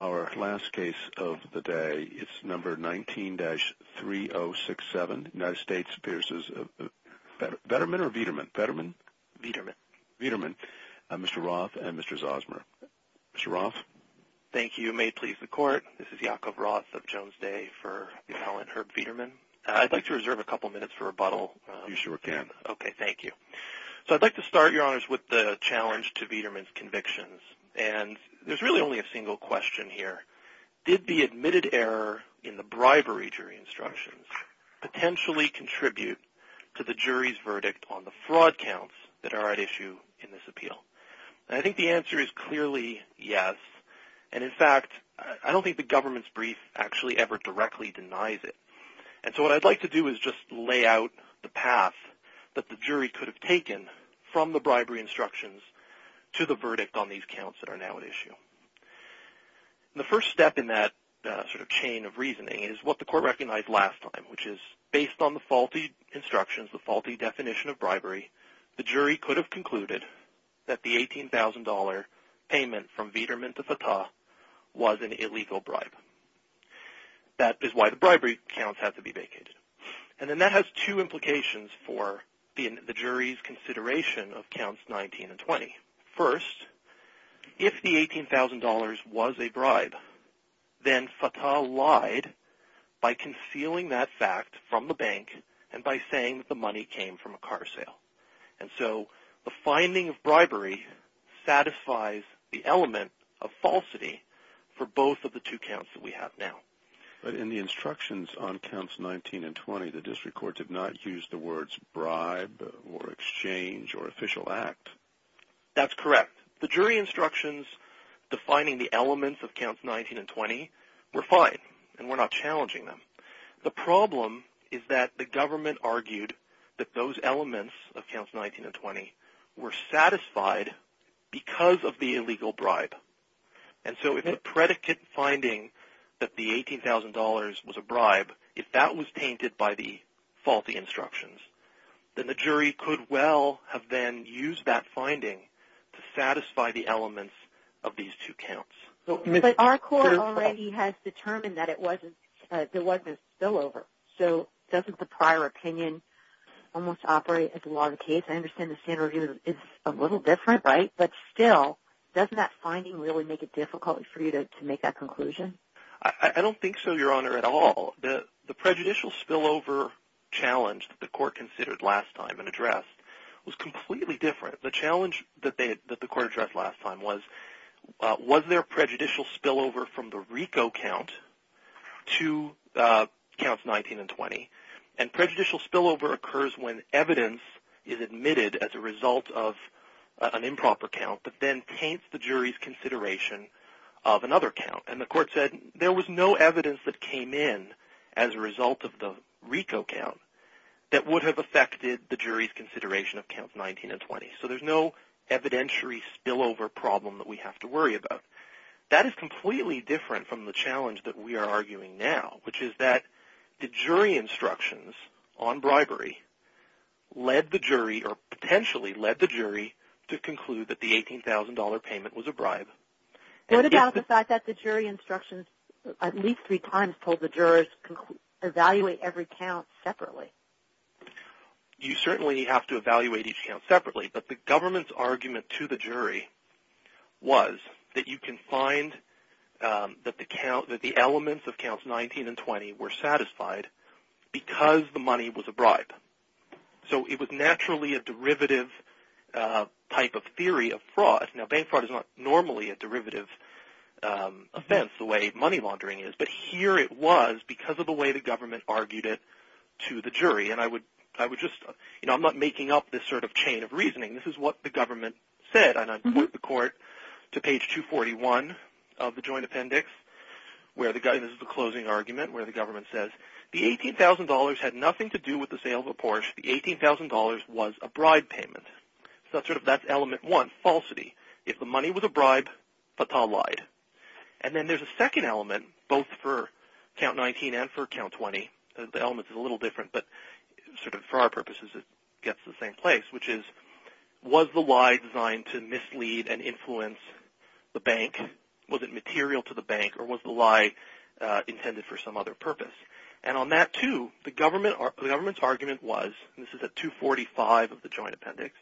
Our last case of the day is number 19-3067, United States v. Vederman, Mr. Roth and Mr. Zosmer. Mr. Roth? Thank you. May it please the Court. This is Yaakov Roth of Jones Day for the appellant Herb Vederman. I'd like to reserve a couple of minutes for rebuttal. You sure can. Okay, thank you. So I'd like to start, Your Honors, with the challenge to Vederman's convictions. And there's really only a single question here. Did the admitted error in the bribery jury instructions potentially contribute to the jury's verdict on the fraud counts that are at issue in this appeal? And I think the answer is clearly yes. And, in fact, I don't think the government's brief actually ever directly denies it. And so what I'd like to do is just lay out the path that the jury could have taken from the bribery instructions to the verdict on these counts that are now at issue. The first step in that sort of chain of reasoning is what the Court recognized last time, which is, based on the faulty instructions, the faulty definition of bribery, the jury could have concluded that the $18,000 payment from Vederman to Fatah was an illegal bribe. That is why the bribery counts have to be vacated. And then that has two implications for the jury's consideration of counts 19 and 20. First, if the $18,000 was a bribe, then Fatah lied by concealing that fact from the bank and by saying that the money came from a car sale. And so the finding of bribery satisfies the element of falsity for both of the two counts that we have now. But in the instructions on counts 19 and 20, the district courts have not used the words bribe or exchange or official act. That's correct. The jury instructions defining the elements of counts 19 and 20 were fine, and we're not challenging them. The problem is that the government argued that those elements of counts 19 and 20 were satisfied because of the illegal bribe. And so if the predicate finding that the $18,000 was a bribe, if that was tainted by the faulty instructions, then the jury could well have then used that finding to satisfy the elements of these two counts. But our court already has determined that there wasn't a spillover. So doesn't the prior opinion almost operate as the law of the case? I understand the standard review is a little different, right? But still, doesn't that finding really make it difficult for you to make that conclusion? I don't think so, Your Honor, at all. The prejudicial spillover challenge that the court considered last time and addressed was completely different. The challenge that the court addressed last time was, was there a prejudicial spillover from the RICO count to counts 19 and 20? And prejudicial spillover occurs when evidence is admitted as a result of an improper count that then paints the jury's consideration of another count. And the court said there was no evidence that came in as a result of the RICO count that would have affected the jury's consideration of counts 19 and 20. So there's no evidentiary spillover problem that we have to worry about. That is completely different from the challenge that we are arguing now, which is that the jury instructions on bribery led the jury, or potentially led the jury, to conclude that the $18,000 payment was a bribe. What about the fact that the jury instructions at least three times told the jurors to evaluate every count separately? You certainly have to evaluate each count separately, but the government's argument to the jury was that you can find that the elements of counts 19 and 20 were satisfied because the money was a bribe. So it was naturally a derivative type of theory of fraud. Now, bank fraud is not normally a derivative offense the way money laundering is, but here it was because of the way the government argued it to the jury. And I'm not making up this sort of chain of reasoning. This is what the government said, and I put the court to page 241 of the joint appendix. This is the closing argument where the government says, the $18,000 had nothing to do with the sale of a Porsche. The $18,000 was a bribe payment. So that's element one, falsity. If the money was a bribe, Fatah lied. And then there's a second element, both for count 19 and for count 20. The element's a little different, but for our purposes it gets the same place, which is, was the lie designed to mislead and influence the bank? Was it material to the bank, or was the lie intended for some other purpose? And on that too, the government's argument was, and this is at 245 of the joint appendix,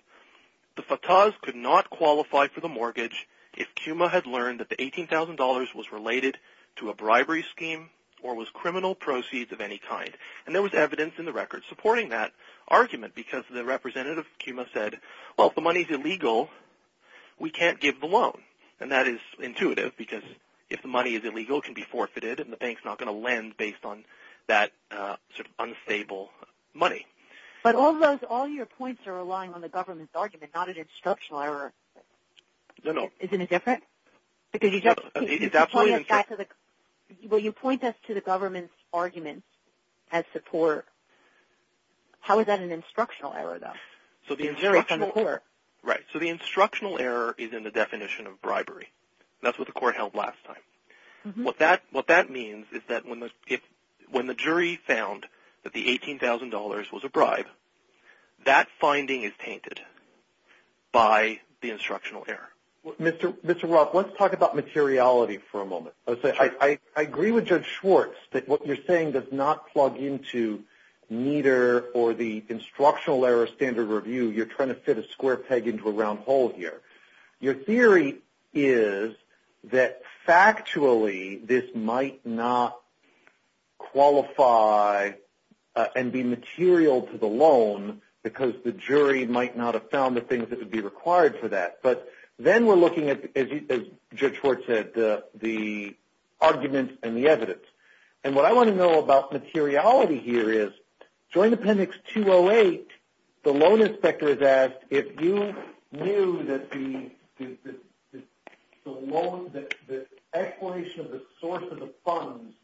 the Fatahs could not qualify for the mortgage if Kuma had learned that the $18,000 was related to a bribery scheme or was criminal proceeds of any kind. And there was evidence in the record supporting that argument because the representative of Kuma said, well, if the money's illegal, we can't give the loan. And that is intuitive because if the money is illegal, it can be forfeited, and the bank's not going to lend based on that sort of unstable money. But all your points are relying on the government's argument, not an instructional error. No, no. Isn't it different? Because you just point us back to the government's arguments as support. How is that an instructional error, though? So the instructional error is in the definition of bribery. That's what the court held last time. What that means is that when the jury found that the $18,000 was a bribe, that finding is tainted by the instructional error. Mr. Roth, let's talk about materiality for a moment. I agree with Judge Schwartz that what you're saying does not plug into neither or the instructional error standard review. You're trying to fit a square peg into a round hole here. Your theory is that factually this might not qualify and be material to the loan because the jury might not have found the things that would be required for that. But then we're looking at, as Judge Schwartz said, the argument and the evidence. And what I want to know about materiality here is, Joint Appendix 208, the loan inspector is asked, if you knew that the explanation of the source of the funds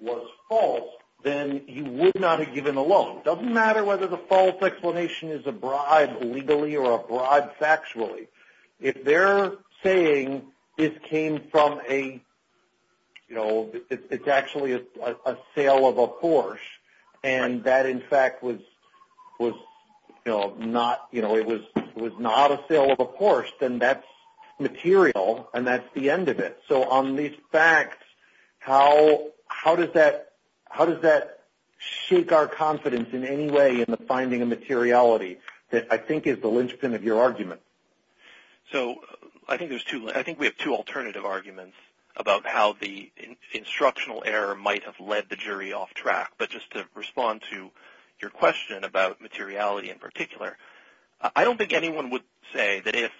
was false, then you would not have given the loan. It doesn't matter whether the false explanation is a bribe legally or a bribe factually. If they're saying this came from a, you know, it's actually a sale of a Porsche and that, in fact, was not a sale of a Porsche, then that's material and that's the end of it. So on these facts, how does that shake our confidence in any way in the finding of materiality that I think is the linchpin of your argument? So I think we have two alternative arguments about how the instructional error might have led the jury off track. But just to respond to your question about materiality in particular, I don't think anyone would say that if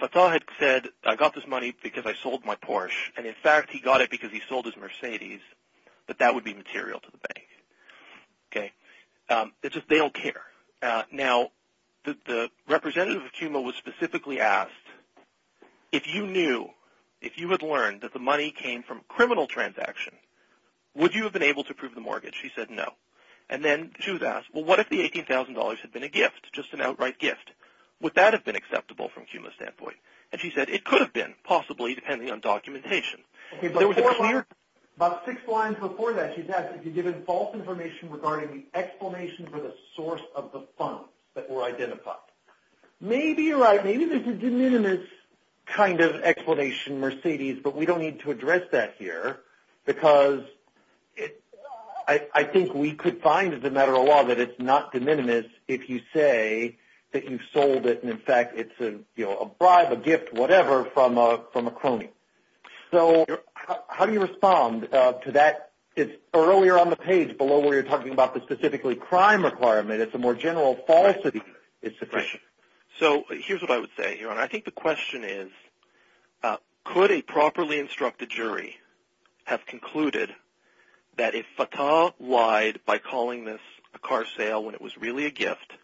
Fatah had said, I got this money because I sold my Porsche and, in fact, he got it because he sold his Mercedes, that that would be material to the bank. It's just they don't care. Now, the representative of CUMA was specifically asked, if you knew, if you had learned that the money came from a criminal transaction, would you have been able to prove the mortgage? She said no. And then she was asked, well, what if the $18,000 had been a gift, just an outright gift? Would that have been acceptable from CUMA's standpoint? And she said it could have been, possibly, depending on documentation. Okay, but four lines, about six lines before that, she's asked if you'd given false information regarding the explanation for the source of the funds that were identified. Maybe you're right. Maybe there's a de minimis kind of explanation, Mercedes, but we don't need to address that here because I think we could find, as a matter of law, that it's not de minimis if you say that you sold it and, in fact, it's a bribe, a gift, whatever, from a crony. So how do you respond to that? It's earlier on the page below where you're talking about the specifically crime requirement. It's a more general falsity. So here's what I would say. I think the question is, could a properly instructed jury have concluded that if Fatah lied by calling this a car sale when it was really a gift,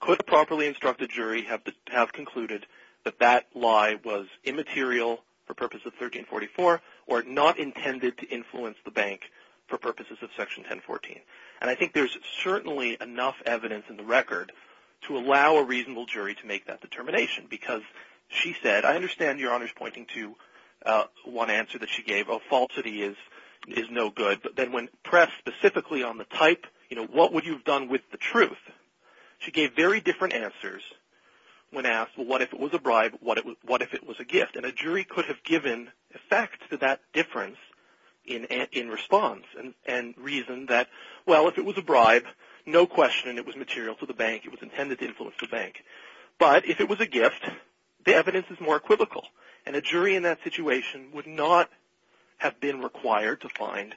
could a properly instructed jury have concluded that that lie was immaterial for purposes of 1344 or not intended to influence the bank for purposes of Section 1014? And I think there's certainly enough evidence in the record to allow a reasonable jury to make that determination because she said, I understand Your Honor's pointing to one answer that she gave. A falsity is no good. But then when pressed specifically on the type, you know, what would you have done with the truth? She gave very different answers when asked, well, what if it was a bribe? What if it was a gift? And a jury could have given effect to that difference in response and reason that, well, if it was a bribe, no question it was material to the bank. It was intended to influence the bank. But if it was a gift, the evidence is more equivocal. And a jury in that situation would not have been required to find,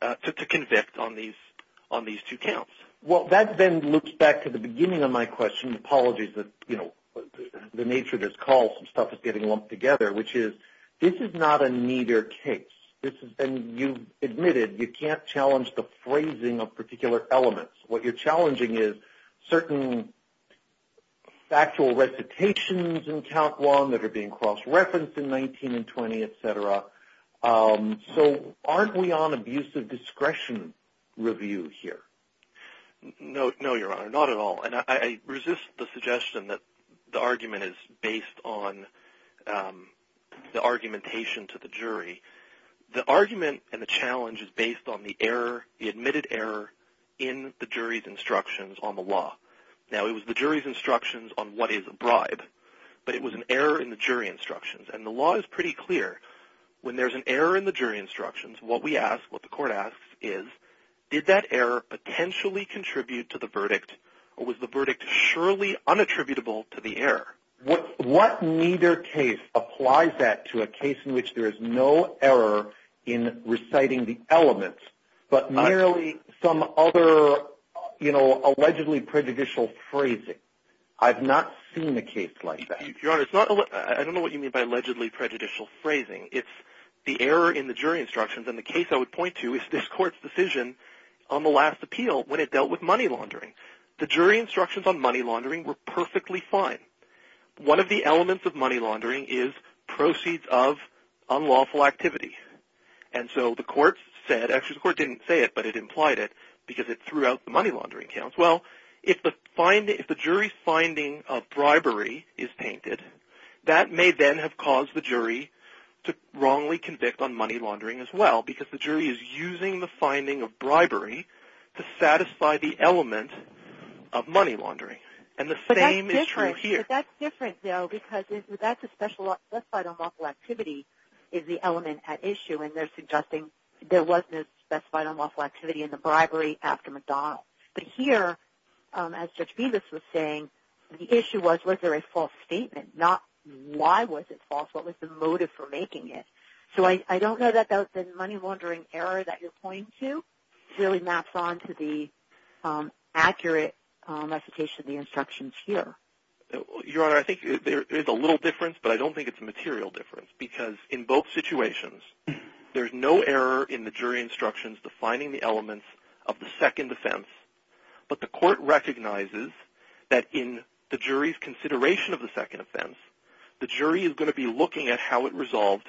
to convict on these two counts. Well, that then looks back to the beginning of my question. Apologies that, you know, the nature of this call, some stuff is getting lumped together, which is this is not a neater case. And you admitted you can't challenge the phrasing of particular elements. What you're challenging is certain factual recitations in count one that are being cross-referenced in 19 and 20, et cetera. So aren't we on abusive discretion review here? No, Your Honor, not at all. And I resist the suggestion that the argument is based on the argumentation to the jury. The argument and the challenge is based on the error, the admitted error in the jury's instructions on the law. Now, it was the jury's instructions on what is a bribe. But it was an error in the jury instructions. And the law is pretty clear, when there's an error in the jury instructions, what we ask, what the court asks is, did that error potentially contribute to the verdict, or was the verdict surely unattributable to the error? What neater case applies that to a case in which there is no error in reciting the elements, but merely some other, you know, allegedly prejudicial phrasing? I've not seen a case like that. Your Honor, I don't know what you mean by allegedly prejudicial phrasing. It's the error in the jury instructions. And the case I would point to is this court's decision on the last appeal when it dealt with money laundering. The jury instructions on money laundering were perfectly fine. One of the elements of money laundering is proceeds of unlawful activity. And so the court said, actually the court didn't say it, but it implied it, because it threw out the money laundering counts. Well, if the jury's finding of bribery is tainted, that may then have caused the jury to wrongly convict on money laundering as well, because the jury is using the finding of bribery to satisfy the element of money laundering. And the same is true here. But that's different, though, because that's a specified unlawful activity is the element at issue, and they're suggesting there wasn't a specified unlawful activity in the bribery after McDonald's. But here, as Judge Bevis was saying, the issue was was there a false statement, not why was it false. What was the motive for making it? So I don't know that the money laundering error that you're pointing to really maps onto the accurate application of the instructions here. Your Honor, I think there is a little difference, but I don't think it's a material difference, because in both situations, there's no error in the jury instructions defining the elements of the second offense. But the court recognizes that in the jury's consideration of the second offense, the jury is going to be looking at how it resolved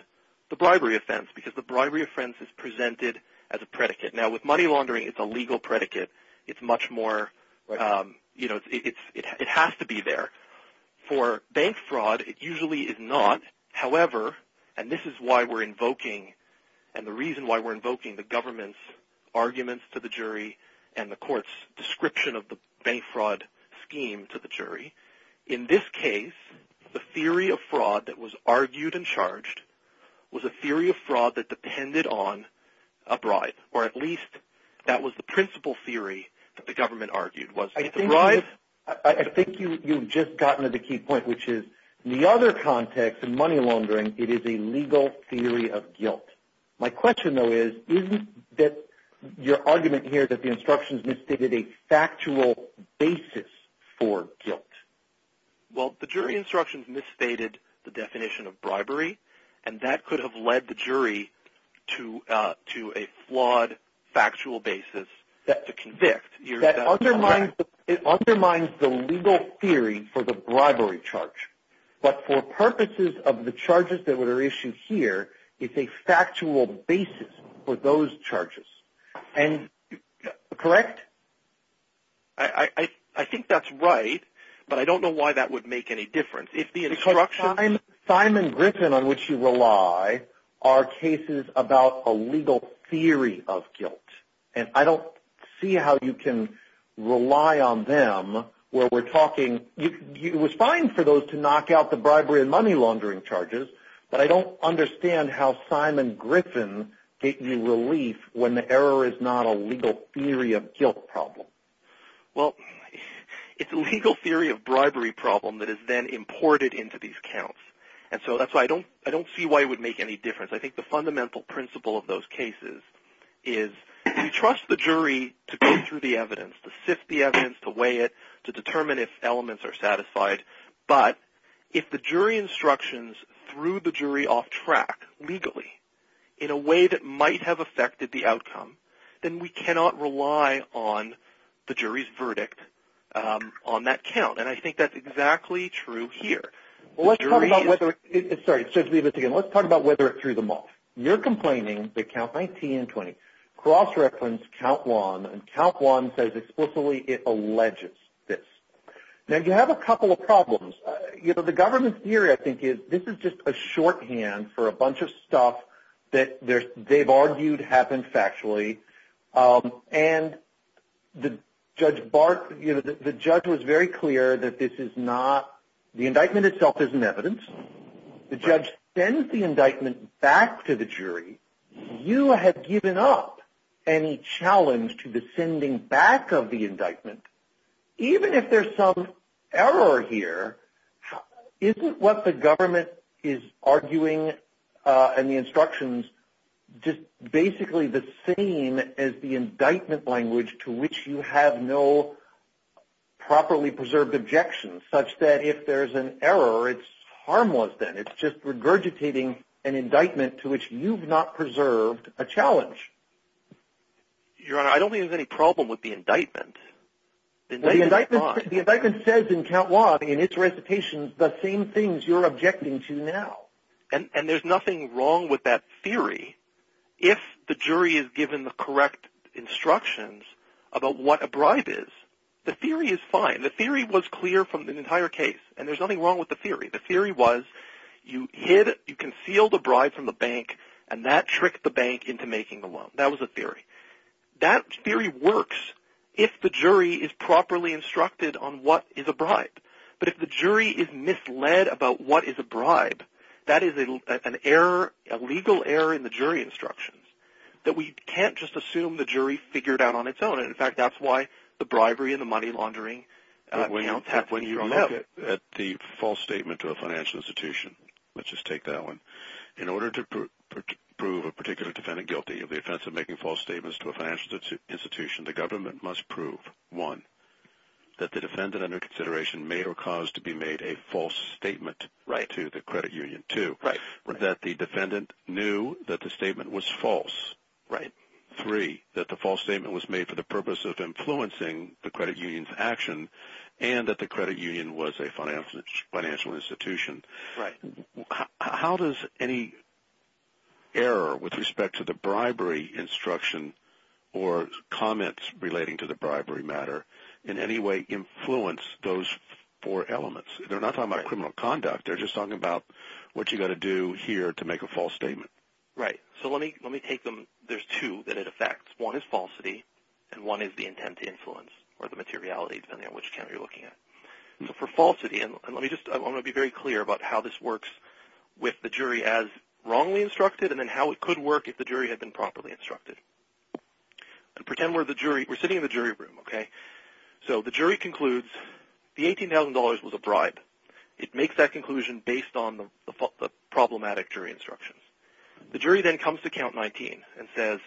the bribery offense, because the bribery offense is presented as a predicate. Now, with money laundering, it's a legal predicate. It's much more, you know, it has to be there. For bank fraud, it usually is not. However, and this is why we're invoking, and the reason why we're invoking the government's arguments to the jury and the court's description of the bank fraud scheme to the jury, in this case, the theory of fraud that was argued and charged was a theory of fraud that depended on a bribe, or at least that was the principal theory that the government argued was that the bribe... I've just gotten to the key point, which is, in the other context, in money laundering, it is a legal theory of guilt. My question, though, is, isn't your argument here that the instructions misstated a factual basis for guilt? Well, the jury instructions misstated the definition of bribery, and that could have led the jury to a flawed, factual basis to convict. That undermines the legal theory for the bribery charge, but for purposes of the charges that are issued here, it's a factual basis for those charges. And, correct? I think that's right, but I don't know why that would make any difference. Because Simon Griffin, on which you rely, are cases about a legal theory of guilt, and I don't see how you can rely on them where we're talking... It was fine for those to knock out the bribery and money laundering charges, but I don't understand how Simon Griffin gave you relief when the error is not a legal theory of guilt problem. Well, it's a legal theory of bribery problem that is then imported into these counts, and so that's why I don't see why it would make any difference. I think the fundamental principle of those cases is you trust the jury to go through the evidence, to sift the evidence, to weigh it, to determine if elements are satisfied, but if the jury instructions threw the jury off track legally in a way that might have affected the outcome, then we cannot rely on the jury's verdict on that count, and I think that's exactly true here. Let's talk about whether it threw them off. You're complaining that Count 19 and 20 cross-referenced Count 1, and Count 1 says explicitly it alleges this. Now, you have a couple of problems. The government's theory, I think, is this is just a shorthand for a bunch of stuff that they've argued happened factually, and the judge was very clear that this is not – the indictment itself isn't evidence. The judge sends the indictment back to the jury. You have given up any challenge to the sending back of the indictment. Even if there's some error here, isn't what the government is arguing in the instructions just basically the same as the indictment language to which you have no properly preserved objections, such that if there's an error, it's harmless then. It's just regurgitating an indictment to which you've not preserved a challenge. Your Honor, I don't think there's any problem with the indictment. The indictment says in Count 1, in its recitation, the same things you're objecting to now. And there's nothing wrong with that theory. If the jury is given the correct instructions about what a bribe is, the theory is fine. The theory was clear from the entire case, and there's nothing wrong with the theory. The theory was you concealed a bribe from the bank, and that tricked the bank into making the loan. That was the theory. That theory works if the jury is properly instructed on what is a bribe. But if the jury is misled about what is a bribe, that is an error, a legal error in the jury instructions that we can't just assume the jury figured out on its own. And, in fact, that's why the bribery and the money laundering counts have to be drawn up. Let's look at the false statement to a financial institution. Let's just take that one. In order to prove a particular defendant guilty of the offense of making false statements to a financial institution, the government must prove, one, that the defendant, under consideration, made or caused to be made a false statement to the credit union, two, that the defendant knew that the statement was false, three, that the false statement was made for the purpose of influencing the credit union's action and that the credit union was a financial institution. How does any error with respect to the bribery instruction or comments relating to the bribery matter in any way influence those four elements? They're not talking about criminal conduct. They're just talking about what you've got to do here to make a false statement. Right. So let me take them. There's two that it affects. One is falsity and one is the intent to influence or the materiality, depending on which county you're looking at. For falsity, I want to be very clear about how this works with the jury as wrongly instructed and then how it could work if the jury had been properly instructed. Pretend we're sitting in the jury room. The jury concludes the $18,000 was a bribe. It makes that conclusion based on the problematic jury instructions. The jury then comes to count 19 and says,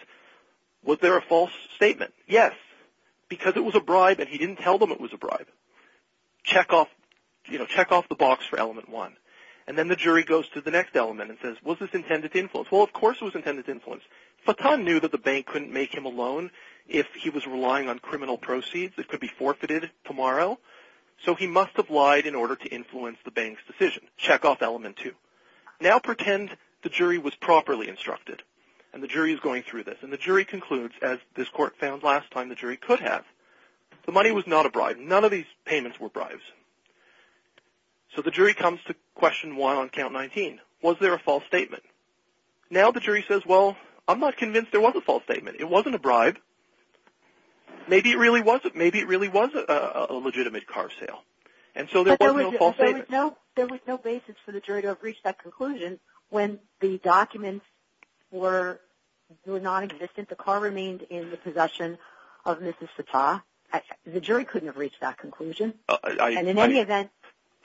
was there a false statement? Yes, because it was a bribe and he didn't tell them it was a bribe. Check off the box for element one. And then the jury goes to the next element and says, was this intended to influence? Well, of course it was intended to influence. Fatan knew that the bank couldn't make him a loan if he was relying on criminal proceeds. It could be forfeited tomorrow. So he must have lied in order to influence the bank's decision. Check off element two. Now pretend the jury was properly instructed and the jury is going through this. And the jury concludes, as this court found last time, the jury could have. The money was not a bribe. None of these payments were bribes. So the jury comes to question one on count 19. Was there a false statement? Now the jury says, well, I'm not convinced there was a false statement. It wasn't a bribe. Maybe it really wasn't. Maybe it really was a legitimate car sale. But there was no basis for the jury to have reached that conclusion when the documents were nonexistent. The car remained in the possession of Mrs. Fatan. The jury couldn't have reached that conclusion. And in any event.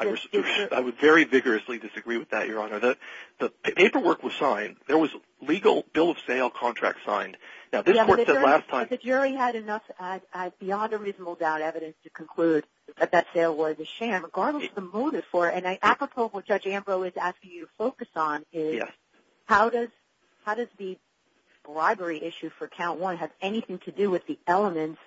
I would very vigorously disagree with that, Your Honor. The paperwork was signed. There was a legal bill of sale contract signed. Now this court said last time. The jury had enough beyond a reasonable doubt evidence to conclude that that sale was a sham. Regardless of the motive for it. And apropos of what Judge Ambrose is asking you to focus on. How does the bribery issue for count 1 have anything to do with the elements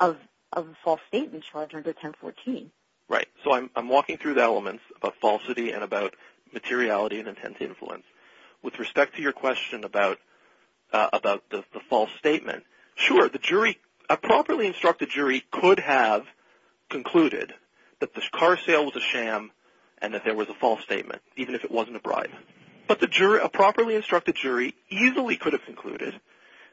of the false statement charge under 1014? Right. So I'm walking through the elements about falsity and about materiality and intense influence. With respect to your question about the false statement. Sure. A properly instructed jury could have concluded that the car sale was a sham. And that there was a false statement. Even if it wasn't a bribe. But a properly instructed jury easily could have concluded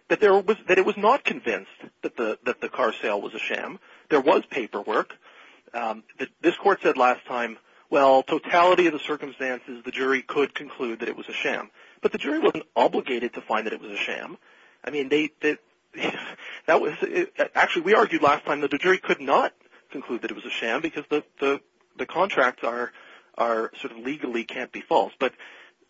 that it was not convinced that the car sale was a sham. There was paperwork. This court said last time. Well, totality of the circumstances the jury could conclude that it was a sham. But the jury wasn't obligated to find that it was a sham. I mean, actually we argued last time that the jury could not conclude that it was a sham. Because the contracts are sort of legally can't be false. But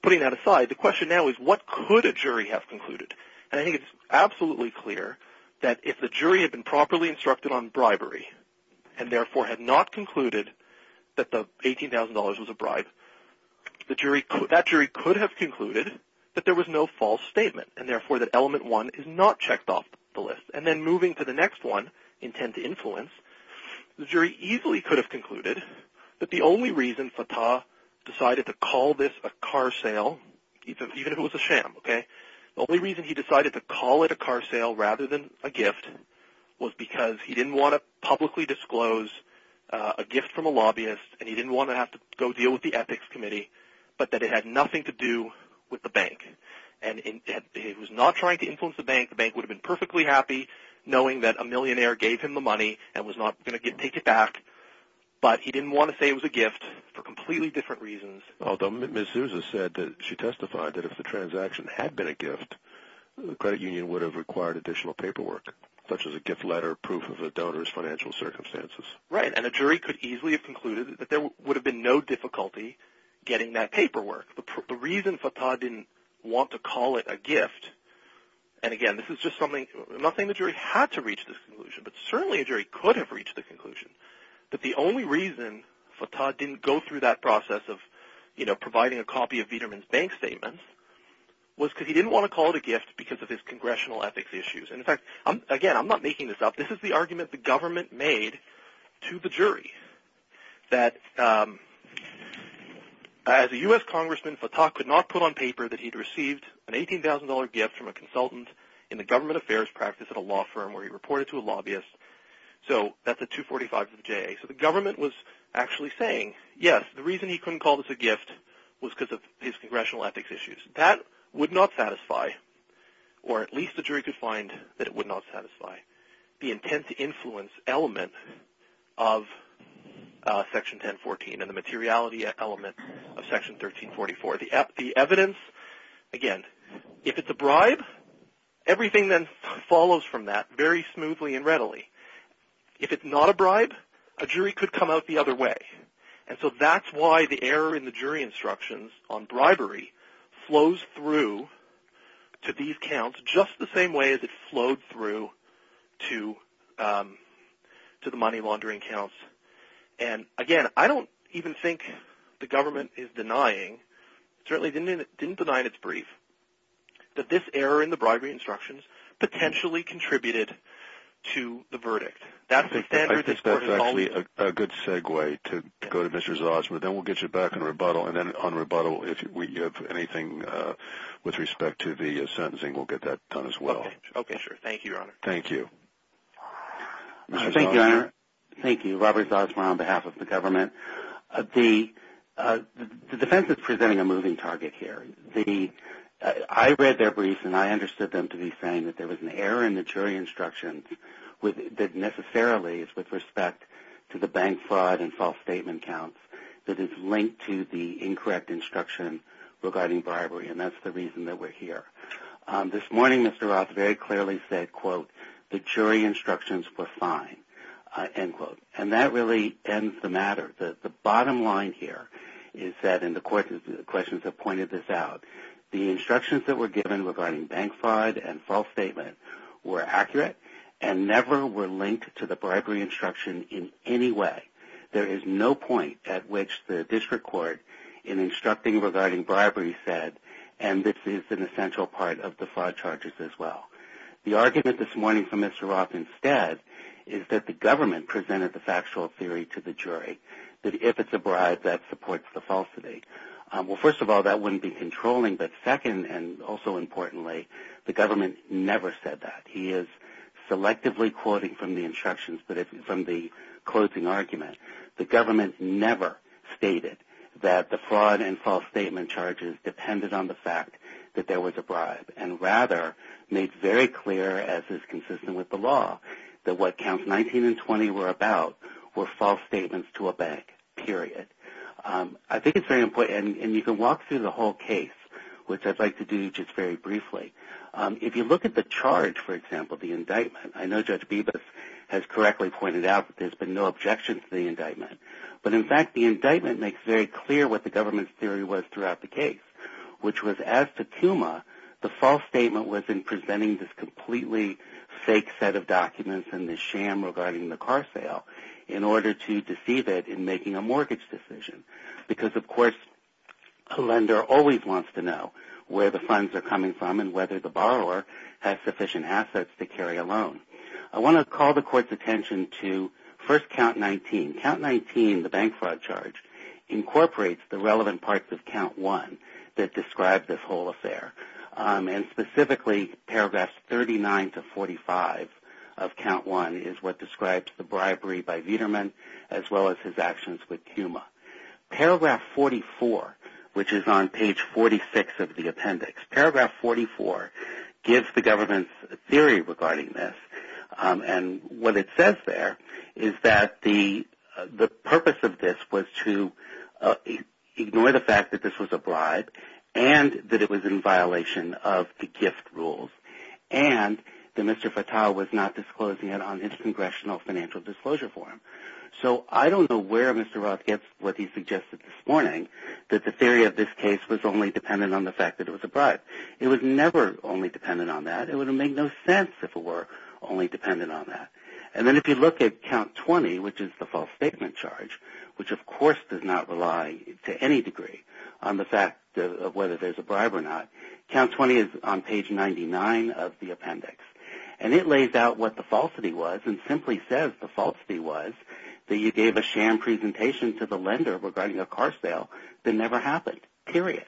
putting that aside. The question now is what could a jury have concluded? And I think it's absolutely clear that if the jury had been properly instructed on bribery. And therefore had not concluded that the $18,000 was a bribe. That jury could have concluded that there was no false statement. And therefore that element one is not checked off the list. And then moving to the next one. Intense influence. The jury easily could have concluded that the only reason Fatah decided to call this a car sale. Even if it was a sham. Okay. The only reason he decided to call it a car sale rather than a gift. Was because he didn't want to publicly disclose a gift from a lobbyist. And he didn't want to have to go deal with the ethics committee. But that it had nothing to do with the bank. And he was not trying to influence the bank. The bank would have been perfectly happy knowing that a millionaire gave him the money. And was not going to take it back. But he didn't want to say it was a gift. For completely different reasons. Although Ms. Souza said that she testified that if the transaction had been a gift. The credit union would have required additional paperwork. Such as a gift letter, proof of a donor's financial circumstances. Right. And a jury could easily have concluded that there would have been no difficulty getting that paperwork. The reason Fatah didn't want to call it a gift. And again this is just something. I'm not saying the jury had to reach this conclusion. But certainly a jury could have reached the conclusion. That the only reason Fatah didn't go through that process of providing a copy of Viderman's bank statement. Was because he didn't want to call it a gift because of his congressional ethics issues. And in fact, again I'm not making this up. This is the argument the government made to the jury. That as a U.S. Congressman. Fatah could not put on paper that he had received an $18,000 gift from a consultant. In the government affairs practice at a law firm where he reported to a lobbyist. So that's a $245,000 of J.A. So the government was actually saying. Yes, the reason he couldn't call this a gift. Was because of his congressional ethics issues. That would not satisfy. Or at least the jury could find that it would not satisfy. The intent to influence element of section 1014. And the materiality element of section 1344. The evidence, again. If it's a bribe. Everything then follows from that. Very smoothly and readily. If it's not a bribe. A jury could come out the other way. And so that's why the error in the jury instructions. On bribery. Flows through. To these counts. Just the same way as it flowed through. To the money laundering counts. And again, I don't even think the government is denying. Certainly didn't deny in its brief. That this error in the bribery instructions. Potentially contributed to the verdict. I think that's actually a good segue. To go to Mr. Zosma. Then we'll get you back in rebuttal. And then on rebuttal. If we have anything with respect to the sentencing. We'll get that done as well. Okay, sure. Thank you, your honor. Thank you. Thank you, your honor. Thank you. Robert Zosma on behalf of the government. The defense is presenting a moving target here. I read their brief. And I understood them to be saying that there was an error in the jury instructions. That necessarily is with respect to the bank fraud and false statement counts. That is linked to the incorrect instruction regarding bribery. And that's the reason that we're here. This morning Mr. Roth very clearly said, quote, the jury instructions were fine. End quote. And that really ends the matter. The bottom line here is that, and the questions have pointed this out, the instructions that were given regarding bank fraud and false statement were accurate and never were linked to the bribery instruction in any way. There is no point at which the district court in instructing regarding bribery said, and this is an essential part of the fraud charges as well. The argument this morning from Mr. Roth instead is that the government presented the factual theory to the jury. That if it's a bribe, that supports the falsity. Well, first of all, that wouldn't be controlling. But second, and also importantly, the government never said that. He is selectively quoting from the instructions. But from the closing argument, the government never stated that the fraud and false statement charges depended on the fact that there was a bribe and rather made very clear, as is consistent with the law, that what counts 19 and 20 were about were false statements to a bank, period. I think it's very important, and you can walk through the whole case, which I'd like to do just very briefly. If you look at the charge, for example, the indictment, I know Judge Bibas has correctly pointed out that there's been no objections to the indictment. But, in fact, the indictment makes very clear what the government's theory was throughout the case, which was as to Kuma, the false statement was in presenting this completely fake set of documents and this sham regarding the car sale in order to deceive it in making a mortgage decision. Because, of course, a lender always wants to know where the funds are coming from and whether the borrower has sufficient assets to carry a loan. I want to call the court's attention to first count 19. Count 19, the bank fraud charge, incorporates the relevant parts of count 1 that describe this whole affair, and specifically paragraphs 39 to 45 of count 1 is what describes the bribery by Viderman as well as his actions with Kuma. Paragraph 44, which is on page 46 of the appendix, paragraph 44 gives the government's theory regarding this. And what it says there is that the purpose of this was to ignore the fact that this was a bribe and that it was in violation of the gift rules and that Mr. Fattah was not disclosing it on intercongressional financial disclosure form. So I don't know where Mr. Roth gets what he suggested this morning, that the theory of this case was only dependent on the fact that it was a bribe. It was never only dependent on that. It would have made no sense if it were only dependent on that. And then if you look at count 20, which is the false statement charge, which of course does not rely to any degree on the fact of whether there's a bribe or not, count 20 is on page 99 of the appendix. And it lays out what the falsity was and simply says the falsity was that you gave a sham presentation to the lender regarding a car sale that never happened, period.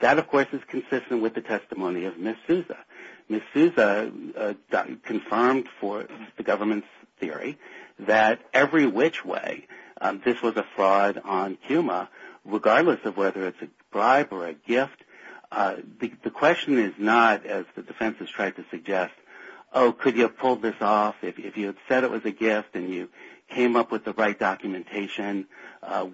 That, of course, is consistent with the testimony of Ms. Souza. Ms. Souza confirmed for the government's theory that every which way this was a fraud on CUMA, regardless of whether it's a bribe or a gift. The question is not, as the defense has tried to suggest, oh, could you have pulled this off? If you had said it was a gift and you came up with the right documentation,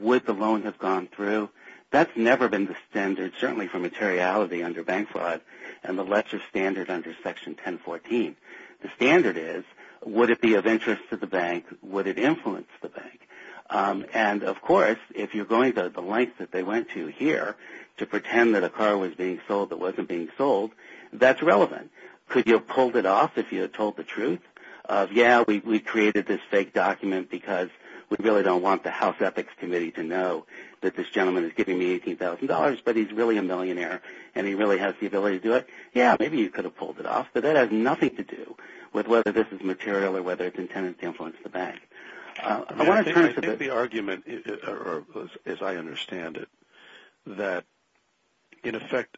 would the loan have gone through? That's never been the standard, certainly for materiality under bank fraud. And the Letcher standard under Section 1014, the standard is would it be of interest to the bank? Would it influence the bank? And, of course, if you're going to the lengths that they went to here to pretend that a car was being sold that wasn't being sold, that's relevant. Could you have pulled it off if you had told the truth of, yeah, we created this fake document because we really don't want the House Ethics Committee to know that this gentleman is giving me $18,000, but he's really a millionaire and he really has the ability to do it? Yeah, maybe you could have pulled it off, but that has nothing to do with whether this is material or whether it's intended to influence the bank. I think the argument, as I understand it, that, in effect,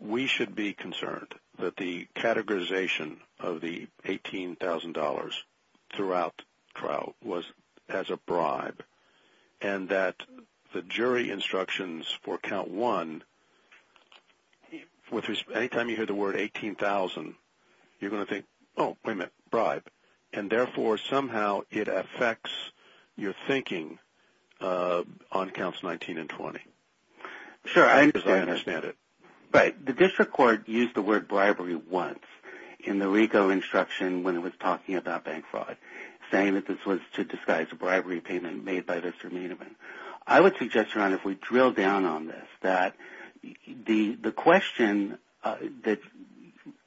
we should be concerned that the categorization of the $18,000 throughout the trial was as a bribe and that the jury instructions for Count 1, any time you hear the word $18,000, you're going to think, oh, wait a minute, bribe. And, therefore, somehow it affects your thinking on Counts 19 and 20. Sure, I understand it. Right. The district court used the word bribery once in the RICO instruction when it was talking about bank fraud, saying that this was to disguise a bribery payment made by Mr. Miniman. I would suggest, Ron, if we drill down on this, that the question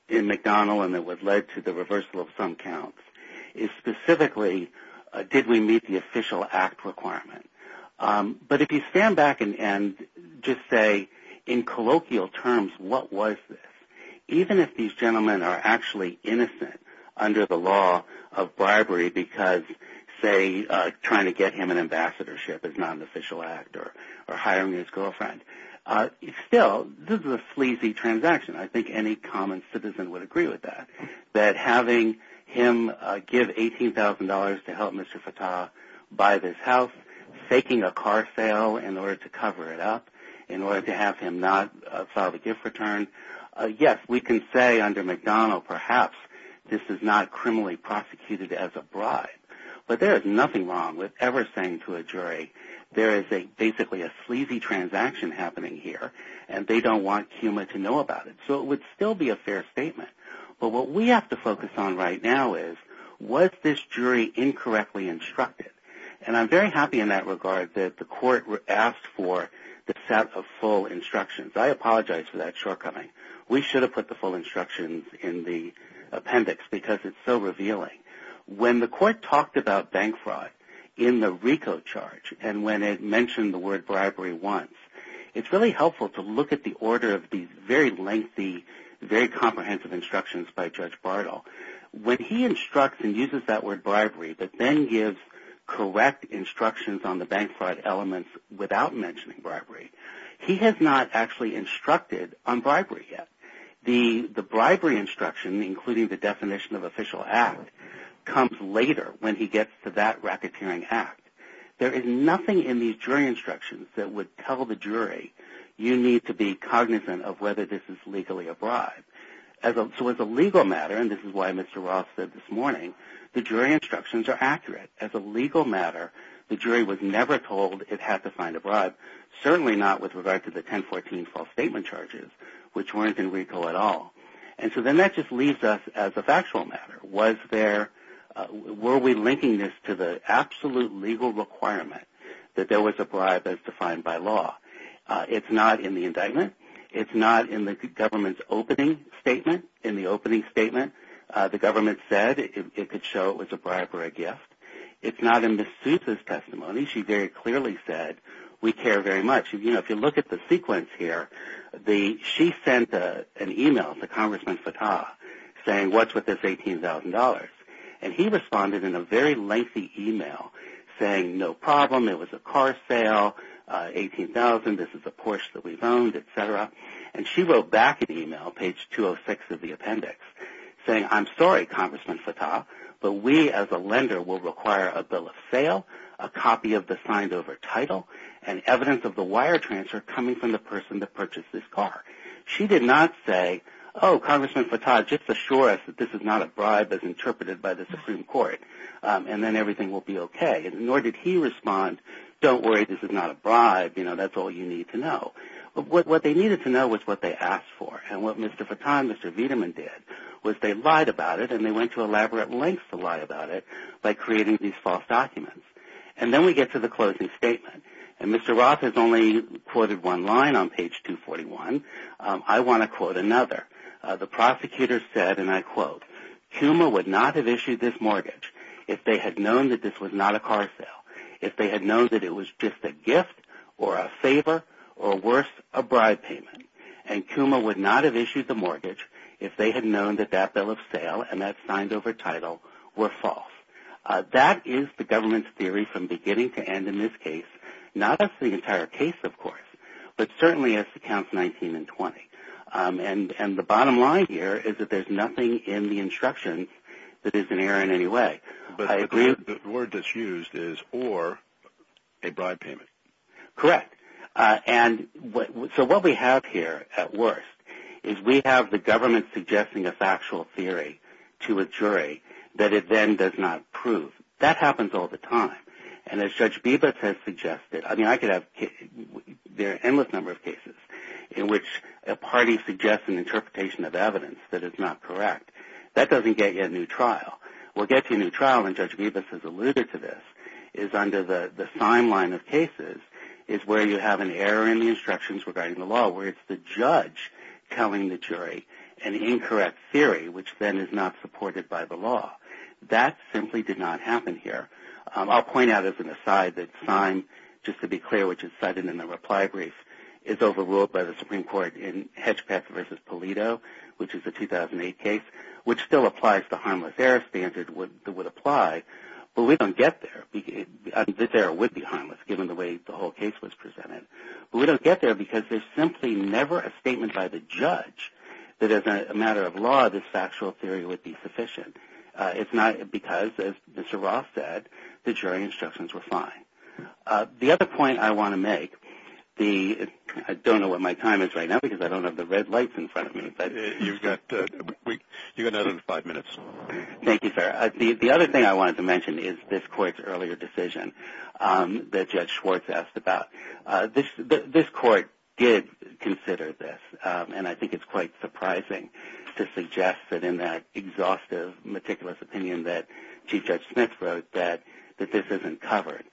in McDonnell and that led to the reversal of some counts is specifically, did we meet the official act requirement? But if you stand back and just say, in colloquial terms, what was this? Even if these gentlemen are actually innocent under the law of bribery because, say, trying to get him an ambassadorship is not an official act or hiring his girlfriend, still, this is a sleazy transaction. I think any common citizen would agree with that, that having him give $18,000 to help Mr. Fattah buy this house, faking a car sale in order to cover it up, in order to have him not file the gift return. Yes, we can say under McDonnell, perhaps, this is not criminally prosecuted as a bribe. But there is nothing wrong with ever saying to a jury, there is basically a sleazy transaction happening here and they don't want CUMA to know about it. So it would still be a fair statement. But what we have to focus on right now is, was this jury incorrectly instructed? And I'm very happy in that regard that the court asked for the set of full instructions. I apologize for that shortcoming. We should have put the full instructions in the appendix because it's so revealing. When the court talked about bank fraud in the RICO charge and when it mentioned the word bribery once, it's really helpful to look at the order of these very lengthy, very comprehensive instructions by Judge Bartle. When he instructs and uses that word bribery, but then gives correct instructions on the bank fraud elements without mentioning bribery, he has not actually instructed on bribery yet. The bribery instruction, including the definition of official act, comes later when he gets to that racketeering act. There is nothing in these jury instructions that would tell the jury you need to be cognizant of whether this is legally a bribe. So as a legal matter, and this is why Mr. Roth said this morning, the jury instructions are accurate. As a legal matter, the jury was never told it had to find a bribe, certainly not with regard to the 1014 false statement charges, which weren't in RICO at all. And so then that just leaves us as a factual matter. Were we linking this to the absolute legal requirement that there was a bribe as defined by law? It's not in the indictment. It's not in the government's opening statement. In the opening statement, the government said it could show it was a bribe or a gift. It's not in Ms. Souza's testimony. She very clearly said, we care very much. If you look at the sequence here, she sent an email to Congressman Fattah saying, what's with this $18,000? And he responded in a very lengthy email saying, no problem, it was a car sale, $18,000, this is a Porsche that we've owned, et cetera. And she wrote back an email, page 206 of the appendix, saying, I'm sorry, Congressman Fattah, but we as a lender will require a bill of sale, a copy of the signed over title, and evidence of the wire transfer coming from the person that purchased this car. She did not say, oh, Congressman Fattah, just assure us that this is not a bribe as interpreted by the Supreme Court, and then everything will be okay. Nor did he respond, don't worry, this is not a bribe, that's all you need to know. What they needed to know was what they asked for. And what Mr. Fattah and Mr. Viedemann did was they lied about it, and they went to elaborate lengths to lie about it by creating these false documents. And then we get to the closing statement. And Mr. Roth has only quoted one line on page 241. I want to quote another. The prosecutor said, and I quote, Kuma would not have issued this mortgage if they had known that this was not a car sale, if they had known that it was just a gift or a favor or worse, a bribe payment. And Kuma would not have issued the mortgage if they had known that that bill of sale and that signed over title were false. That is the government's theory from beginning to end in this case. Not as the entire case, of course, but certainly as to counts 19 and 20. And the bottom line here is that there's nothing in the instructions that is in error in any way. But the word that's used is or a bribe payment. Correct. And so what we have here at worst is we have the government suggesting a factual theory to a jury that it then does not prove. That happens all the time. And as Judge Bibas has suggested, I mean, I could have an endless number of cases in which a party suggests an interpretation of evidence that is not correct. That doesn't get you a new trial. What gets you a new trial, and Judge Bibas has alluded to this, is under the sign line of cases is where you have an error in the instructions regarding the law where it's the judge telling the jury an incorrect theory, which then is not supported by the law. That simply did not happen here. I'll point out as an aside that sign, just to be clear, which is cited in the reply brief is overruled by the Supreme Court in Hedgepeth v. Polito, which is a 2008 case, which still applies the harmless error standard that would apply. But we don't get there. This error would be harmless given the way the whole case was presented. But we don't get there because there's simply never a statement by the judge that as a matter of law, this factual theory would be sufficient. It's not because, as Mr. Roth said, the jury instructions were fine. The other point I want to make, I don't know what my time is right now because I don't have the red lights in front of me. Thank you, sir. The other thing I wanted to mention is this court's earlier decision that Judge Schwartz asked about. This court did consider this, and I think it's quite surprising to suggest that in that exhaustive, meticulous opinion that Chief Judge Smith wrote that this isn't covered.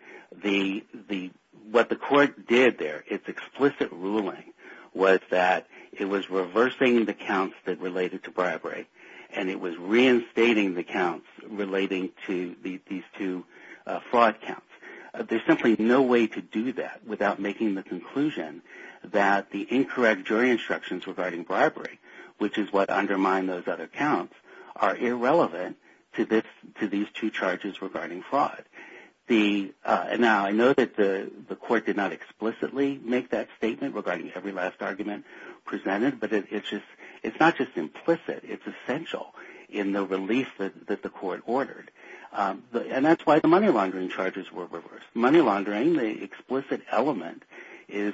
What the court did there, its explicit ruling, was that it was reversing the counts that related to bribery, and it was reinstating the counts relating to these two fraud counts. There's simply no way to do that without making the conclusion that the incorrect jury instructions regarding bribery, which is what undermined those other counts, are irrelevant to these two charges regarding fraud. Now, I know that the court did not explicitly make that statement regarding every last argument presented, but it's not just implicit. It's essential in the release that the court ordered, and that's why the money laundering charges were reversed. Money laundering, the explicit element, is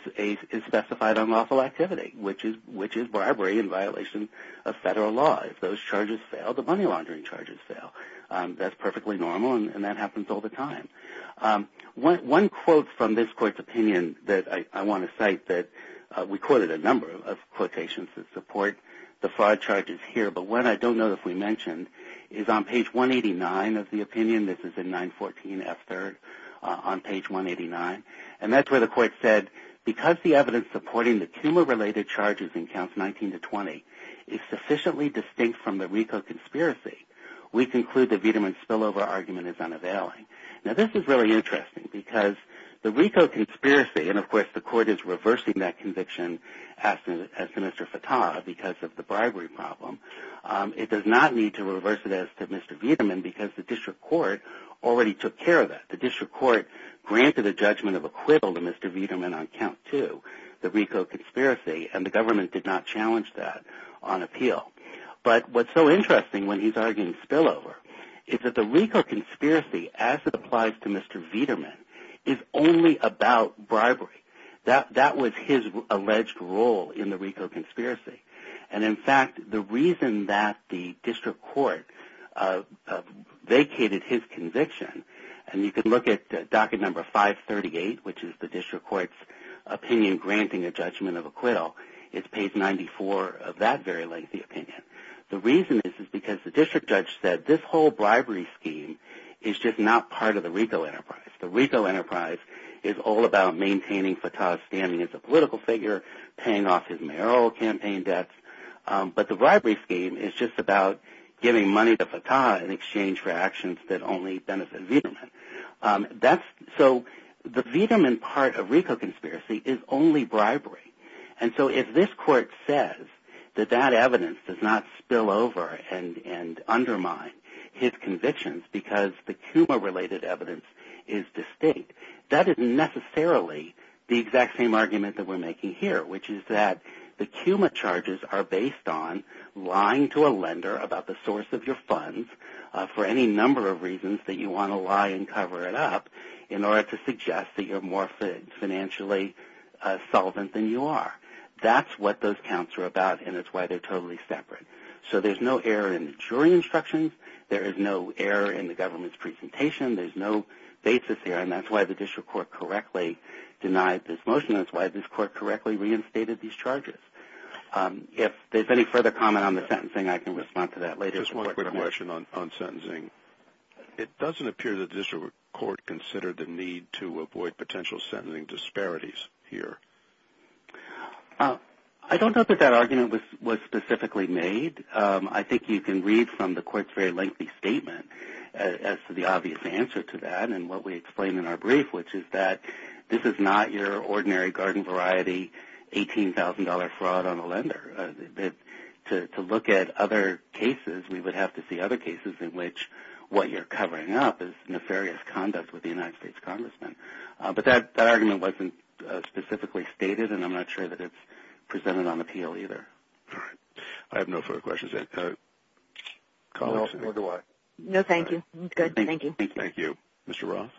specified on lawful activity, which is bribery in violation of federal law. If those charges fail, the money laundering charges fail. That's perfectly normal, and that happens all the time. One quote from this court's opinion that I want to cite that we quoted a number of quotations that support the fraud charges here, but one I don't know if we mentioned is on page 189 of the opinion. This is in 914F3rd on page 189, and that's where the court said, because the evidence supporting the tumor-related charges in counts 19 to 20 is sufficiently distinct from the RICO conspiracy, we conclude that Viderman's spillover argument is unavailing. Now, this is really interesting because the RICO conspiracy, and, of course, the court is reversing that conviction as to Mr. Fattah because of the bribery problem. It does not need to reverse it as to Mr. Viderman because the district court already took care of that. The district court granted a judgment of acquittal to Mr. Viderman on count two, the RICO conspiracy, and the government did not challenge that on appeal. But what's so interesting when he's arguing spillover is that the RICO conspiracy, as it applies to Mr. Viderman, is only about bribery. That was his alleged role in the RICO conspiracy. And, in fact, the reason that the district court vacated his conviction, and you can look at docket number 538, which is the district court's opinion granting a judgment of acquittal, is page 94 of that very lazy opinion. The reason is because the district judge said this whole bribery scheme is just not part of the RICO enterprise. The RICO enterprise is all about maintaining Fattah's standing as a political figure, paying off his mayoral campaign debts, but the bribery scheme is just about giving money to Fattah in exchange for actions that only benefit Viderman. So the Viderman part of RICO conspiracy is only bribery. And so if this court says that that evidence does not spill over and undermine his convictions because the KUMA-related evidence is distinct, that isn't necessarily the exact same argument that we're making here, which is that the KUMA charges are based on lying to a lender about the source of your funds for any number of reasons that you want to lie and cover it up in order to suggest that you're more financially solvent than you are. That's what those counts are about, and it's why they're totally separate. So there's no error in the jury instructions. There is no error in the government's presentation. There's no basis here, and that's why the district court correctly denied this motion. That's why this court correctly reinstated these charges. If there's any further comment on the sentencing, I can respond to that later. Just one quick question on sentencing. It doesn't appear that the district court considered the need to avoid potential sentencing disparities here. I don't know that that argument was specifically made. I think you can read from the court's very lengthy statement as to the obvious answer to that and what we explain in our brief, which is that this is not your ordinary garden variety, $18,000 fraud on a lender. To look at other cases, we would have to see other cases in which what you're covering up is nefarious conduct with the United States congressman. But that argument wasn't specifically stated, and I'm not sure that it's presented on appeal either. All right. I have no further questions. No, nor do I. No, thank you. Good. Thank you. Thank you. Mr. Ross?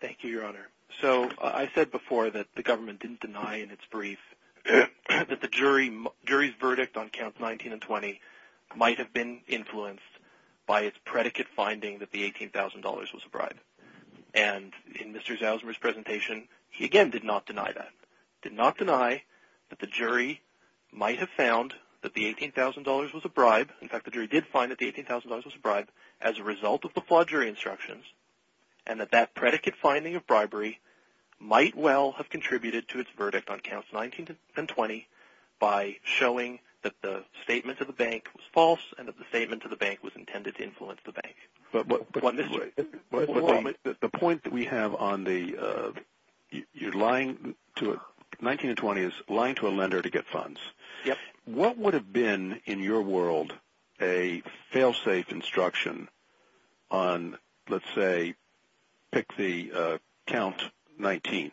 Thank you, Your Honor. So I said before that the government didn't deny in its brief that the jury's verdict on counts 19 and 20 might have been influenced by its predicate finding that the $18,000 was a bribe. And in Mr. Zausmer's presentation, he again did not deny that. Did not deny that the jury might have found that the $18,000 was a bribe. In fact, the jury did find that the $18,000 was a bribe as a result of the flawed jury instructions and that that predicate finding of bribery might well have contributed to its verdict on counts 19 and 20 by showing that the statement to the bank was false and that the statement to the bank was intended to influence the bank. But the point that we have on 19 and 20 is lying to a lender to get funds. What would have been, in your world, a fail-safe instruction on, let's say, pick the count 19,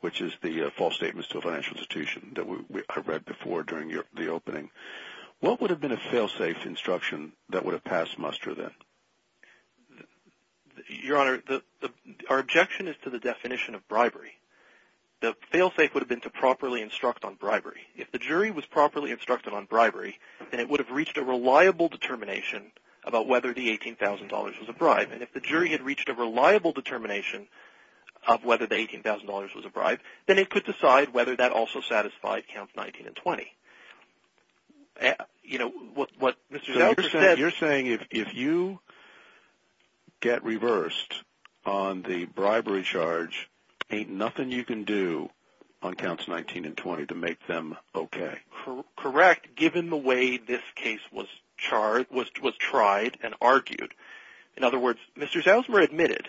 which is the false statements to a financial institution that I read before during the opening? What would have been a fail-safe instruction that would have passed muster then? Your Honor, our objection is to the definition of bribery. The fail-safe would have been to properly instruct on bribery. If the jury was properly instructed on bribery, then it would have reached a reliable determination about whether the $18,000 was a bribe. And if the jury had reached a reliable determination of whether the $18,000 was a bribe, then it could decide whether that also satisfied counts 19 and 20. You're saying if you get reversed on the bribery charge, ain't nothing you can do on counts 19 and 20 to make them okay? Correct, given the way this case was tried and argued. In other words, Mr. Zausmer admitted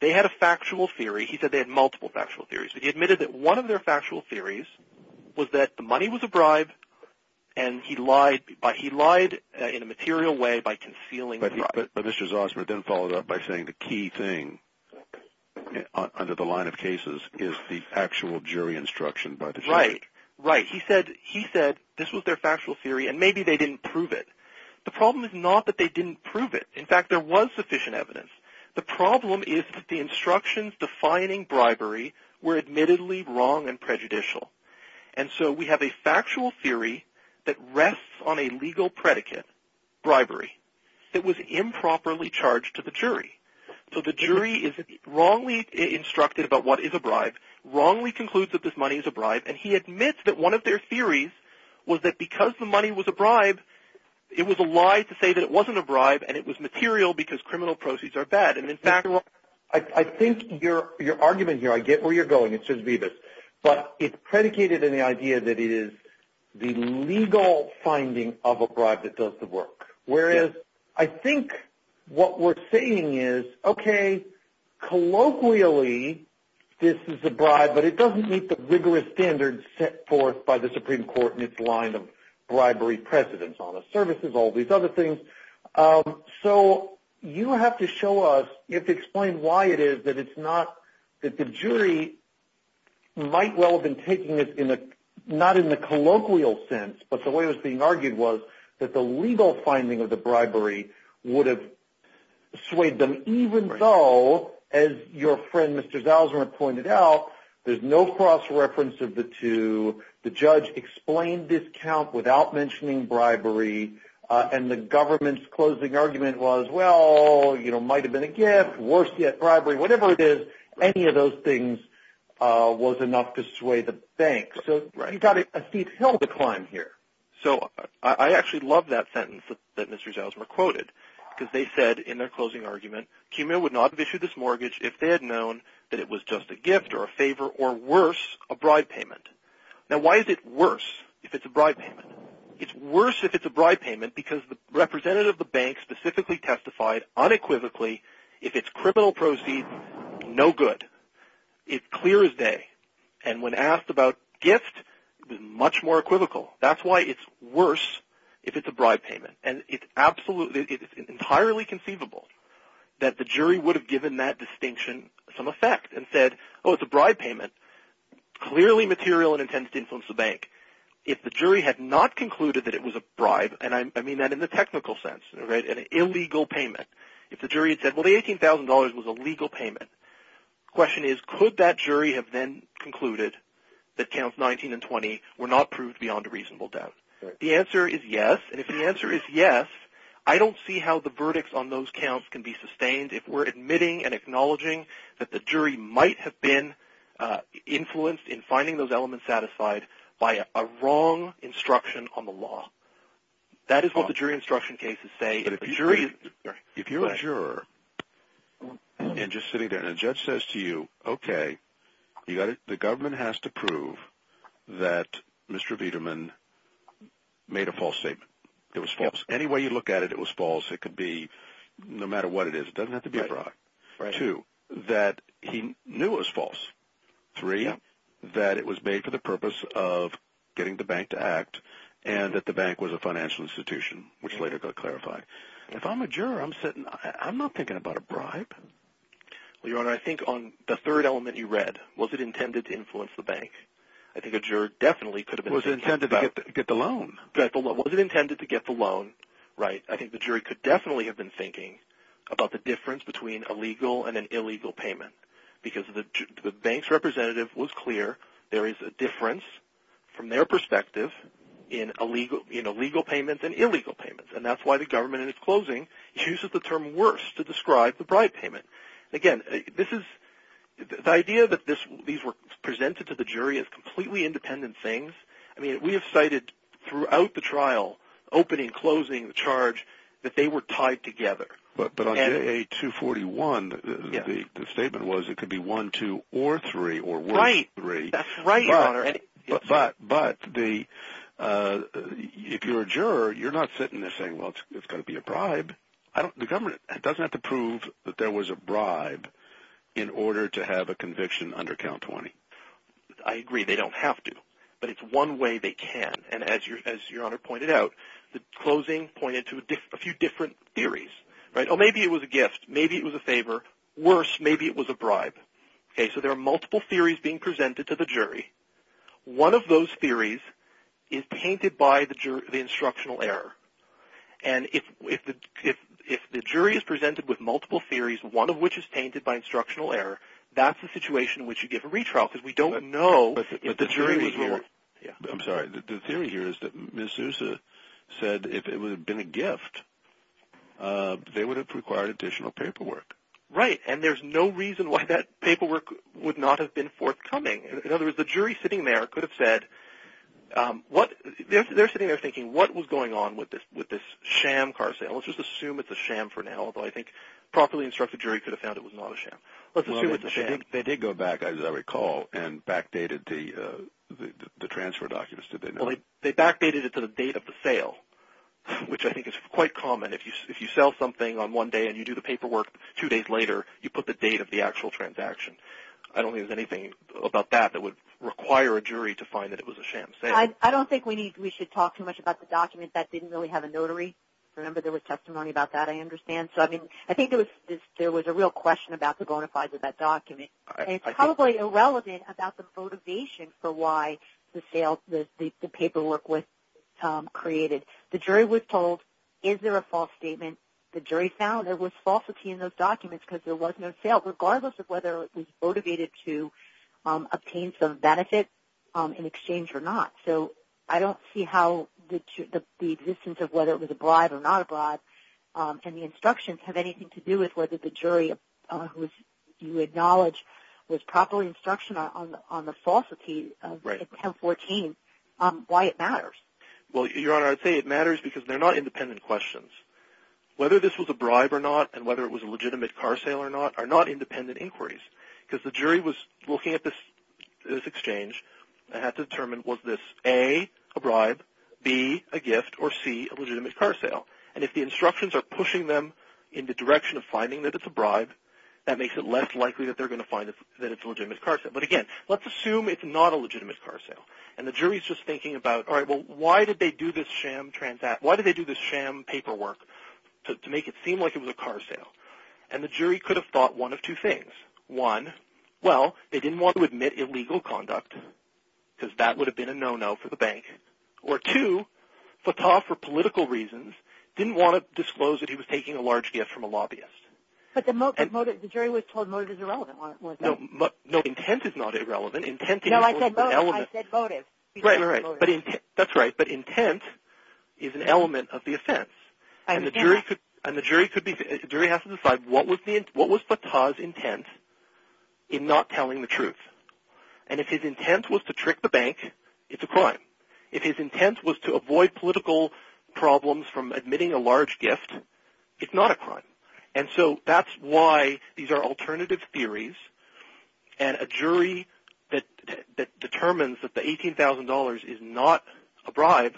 they had a factual theory. He said they had multiple factual theories. He admitted that one of their factual theories was that the money was a bribe, and he lied in a material way by concealing the bribe. But Mr. Zausmer then followed up by saying the key thing under the line of cases is the actual jury instruction by the jury. Right, right. He said this was their factual theory, and maybe they didn't prove it. The problem is not that they didn't prove it. In fact, there was sufficient evidence. The problem is that the instructions defining bribery were admittedly wrong and prejudicial. And so we have a factual theory that rests on a legal predicate, bribery, that was improperly charged to the jury. So the jury is wrongly instructed about what is a bribe, wrongly concludes that this money is a bribe, and he admits that one of their theories was that because the money was a bribe, it was a lie to say that it wasn't a bribe and it was material because criminal proceeds are bad. And in fact, I think your argument here, I get where you're going. But it's predicated in the idea that it is the legal finding of a bribe that does the work, whereas I think what we're saying is, okay, colloquially this is a bribe, but it doesn't meet the rigorous standards set forth by the Supreme Court in its line of bribery precedents, honest services, all these other things. So you have to show us, you have to explain why it is that it's not, that the jury might well have been taking this not in the colloquial sense, but the way it was being argued was that the legal finding of the bribery would have swayed them, even though, as your friend Mr. Zausman pointed out, there's no cross-reference of the two. The judge explained this count without mentioning bribery, and the government's closing argument was, well, it might have been a gift, worse yet, bribery, whatever it is, any of those things was enough to sway the bank. So you've got a steep hill to climb here. So I actually love that sentence that Mr. Zausman quoted, because they said in their closing argument, CUMA would not have issued this mortgage if they had known that it was just a gift or a favor, or worse, a bribe payment. Now why is it worse if it's a bribe payment? It's worse if it's a bribe payment because the representative of the bank specifically testified unequivocally if it's criminal proceeds, no good. It's clear as day. And when asked about gift, it was much more equivocal. That's why it's worse if it's a bribe payment. And it's entirely conceivable that the jury would have given that distinction some effect and said, oh, it's a bribe payment. Clearly material and intended to influence the bank. If the jury had not concluded that it was a bribe, and I mean that in the technical sense, an illegal payment, if the jury had said, well, the $18,000 was a legal payment, the question is, could that jury have then concluded that counts 19 and 20 were not proved beyond a reasonable doubt? The answer is yes. And if the answer is yes, I don't see how the verdicts on those counts can be sustained if we're admitting and acknowledging that the jury might have been influenced in finding those elements satisfied by a wrong instruction on the law. That is what the jury instruction cases say. If you're a juror and just sitting there and a judge says to you, okay, the government has to prove that Mr. Viderman made a false statement. It was false. Any way you look at it, it was false. It could be no matter what it is. It doesn't have to be a bribe. Two, that he knew it was false. And that the bank was a financial institution, which later got clarified. If I'm a juror, I'm not thinking about a bribe. Well, Your Honor, I think on the third element you read, was it intended to influence the bank? I think a juror definitely could have been thinking about that. Was it intended to get the loan? Was it intended to get the loan? Right. I think the jury could definitely have been thinking about the difference between a legal and an illegal payment because the bank's representative was clear there is a difference, from their perspective, in illegal payments and illegal payments. And that's why the government, in its closing, uses the term worse to describe the bribe payment. Again, the idea that these were presented to the jury as completely independent things, I mean, we have cited throughout the trial, opening, closing, the charge, that they were tied together. But on JA 241, the statement was it could be one, two, or three, or worse three. Right. That's right, Your Honor. But if you're a juror, you're not sitting there saying, well, it's going to be a bribe. The government doesn't have to prove that there was a bribe in order to have a conviction under count 20. I agree. They don't have to. But it's one way they can. And as Your Honor pointed out, the closing pointed to a few different theories. Maybe it was a gift. Maybe it was a favor. Worse, maybe it was a bribe. So there are multiple theories being presented to the jury. One of those theories is tainted by the instructional error. And if the jury is presented with multiple theories, one of which is tainted by instructional error, that's a situation in which you give a retrial because we don't know if the jury was wrong. I'm sorry. The theory here is that Ms. Sousa said if it had been a gift, they would have required additional paperwork. Right. And there's no reason why that paperwork would not have been forthcoming. In other words, the jury sitting there could have said, they're sitting there thinking, what was going on with this sham car sale? Let's just assume it's a sham for now, although I think a properly instructed jury could have found it was not a sham. They did go back, as I recall, and backdated the transfer documents, did they not? They backdated it to the date of the sale, which I think is quite common. If you sell something on one day and you do the paperwork two days later, you put the date of the actual transaction. I don't think there's anything about that that would require a jury to find that it was a sham sale. I don't think we should talk too much about the document. That didn't really have a notary. Remember, there was testimony about that, I understand. I think there was a real question about the bona fides of that document. It's probably irrelevant about the motivation for why the paperwork was created. The jury was told, is there a false statement? The jury found there was falsity in those documents because there was no sale, regardless of whether it was motivated to obtain some benefit in exchange or not. I don't see how the existence of whether it was a bribe or not a bribe and the instructions have anything to do with whether the jury, who you acknowledge was properly instructional on the falsity of 1014, why it matters. Your Honor, I'd say it matters because they're not independent questions. Whether this was a bribe or not, and whether it was a legitimate car sale or not, are not independent inquiries. The jury was looking at this exchange and had to determine, was this A, a bribe, B, a gift, or C, a legitimate car sale? If the instructions are pushing them in the direction of finding that it's a bribe, that makes it less likely that they're going to find that it's a legitimate car sale. Again, let's assume it's not a legitimate car sale. The jury's just thinking about, why did they do this sham paperwork to make it seem like it was a car sale? The jury could have thought one of two things. One, they didn't want to admit illegal conduct because that would have been a no-no for the bank. Or two, Fatah, for political reasons, didn't want to disclose that he was taking a large gift from a lobbyist. But the jury was told motive is irrelevant. No, intent is not irrelevant. No, I said motive. That's right, but intent is an element of the offense. And the jury has to decide, what was Fatah's intent in not telling the truth? And if his intent was to trick the bank, it's a crime. If his intent was to avoid political problems from admitting a large gift, it's not a crime. And so that's why these are alternative theories. And a jury that determines that the $18,000 is not a bribe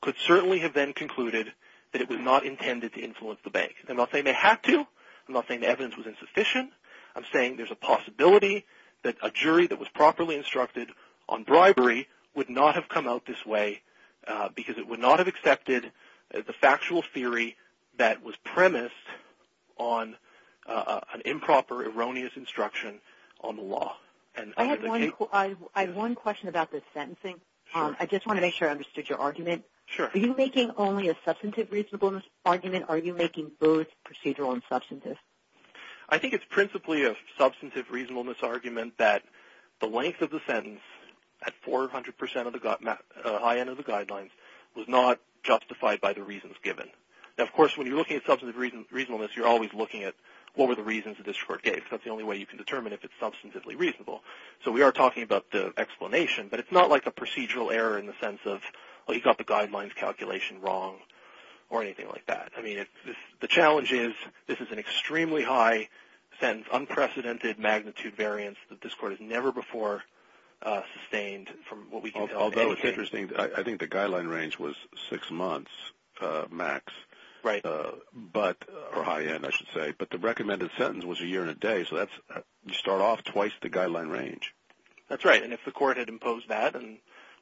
could certainly have then concluded that it was not intended to influence the bank. I'm not saying they had to. I'm not saying the evidence was insufficient. I'm saying there's a possibility that a jury that was properly instructed on bribery would not have come out this way because it would not have accepted the factual theory that was premised on an improper, erroneous instruction on the law. I have one question about the sentencing. I just want to make sure I understood your argument. Sure. Are you making only a substantive reasonableness argument, or are you making both procedural and substantive? I think it's principally a substantive reasonableness argument that the length of the sentence at 400% of the high end of the guidelines was not justified by the reasons given. Now, of course, when you're looking at substantive reasonableness, you're always looking at what were the reasons that this court gave. That's the only way you can determine if it's substantively reasonable. So we are talking about the explanation, but it's not like a procedural error in the sense of, oh, you got the guidelines calculation wrong or anything like that. I mean, the challenge is this is an extremely high sentence, unprecedented magnitude variance that this court has never before sustained from what we can tell. Although it's interesting. I think the guideline range was six months max, or high end, I should say. But the recommended sentence was a year and a day, so you start off twice the guideline range. That's right. And if the court had imposed that,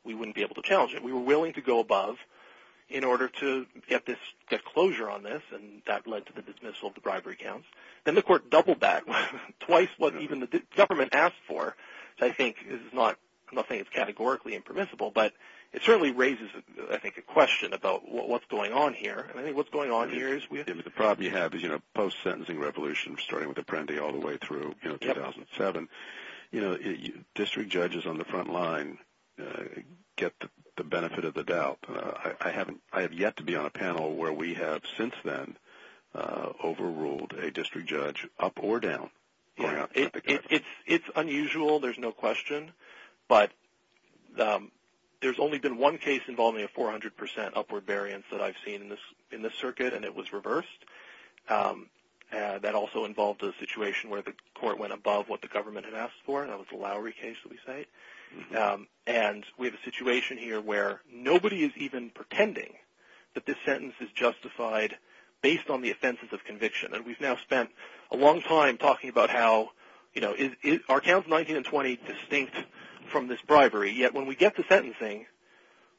we wouldn't be able to challenge it. We were willing to go above in order to get closure on this, and that led to the dismissal of the bribery counts. Then the court doubled that, twice what even the government asked for. So I think this is not – I'm not saying it's categorically impermissible, but it certainly raises, I think, a question about what's going on here. And I think what's going on here is – I have yet to be on a panel where we have since then overruled a district judge up or down. It's unusual. There's no question. But there's only been one case involving a 400% upward variance that I've seen in this circuit, and it was reversed. That also involved a situation where the court went above what the government had asked for, and that was the Lowry case, we say. And we have a situation here where nobody is even pretending that this sentence is justified based on the offenses of conviction. And we've now spent a long time talking about how – are Counts 19 and 20 distinct from this bribery? Yet when we get to sentencing,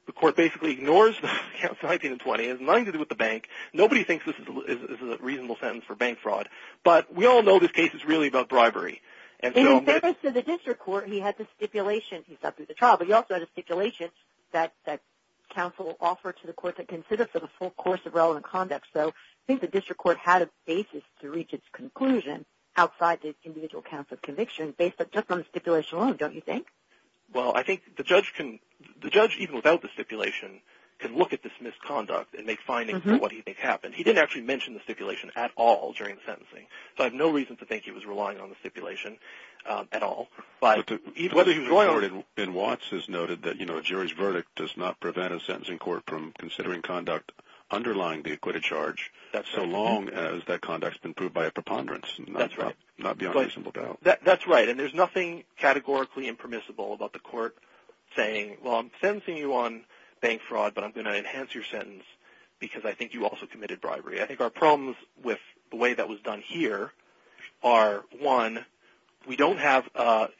the court basically ignores the Counts 19 and 20. It has nothing to do with the bank. Nobody thinks this is a reasonable sentence for bank fraud. But we all know this case is really about bribery. In the case of the district court, he had the stipulation – he's not through the trial – but he also had a stipulation that counsel will offer to the court to consider for the full course of relevant conduct. So I think the district court had a basis to reach its conclusion outside the individual counts of conviction based just on the stipulation alone, don't you think? Well, I think the judge can – the judge, even without the stipulation, can look at this misconduct and make findings on what he thinks happened. He didn't actually mention the stipulation at all during the sentencing. So I have no reason to think he was relying on the stipulation at all. But – But to – Whether he was going over it in Watts is noted that, you know, a jury's verdict does not prevent a sentencing court from considering conduct underlying the acquitted charge so long as that conduct has been proved by a preponderance. That's right. Not beyond reasonable doubt. That's right. And there's nothing categorically impermissible about the court saying, well, I'm sentencing you on bank fraud, but I'm going to enhance your sentence because I think you also committed bribery. I think our problems with the way that was done here are, one, we don't have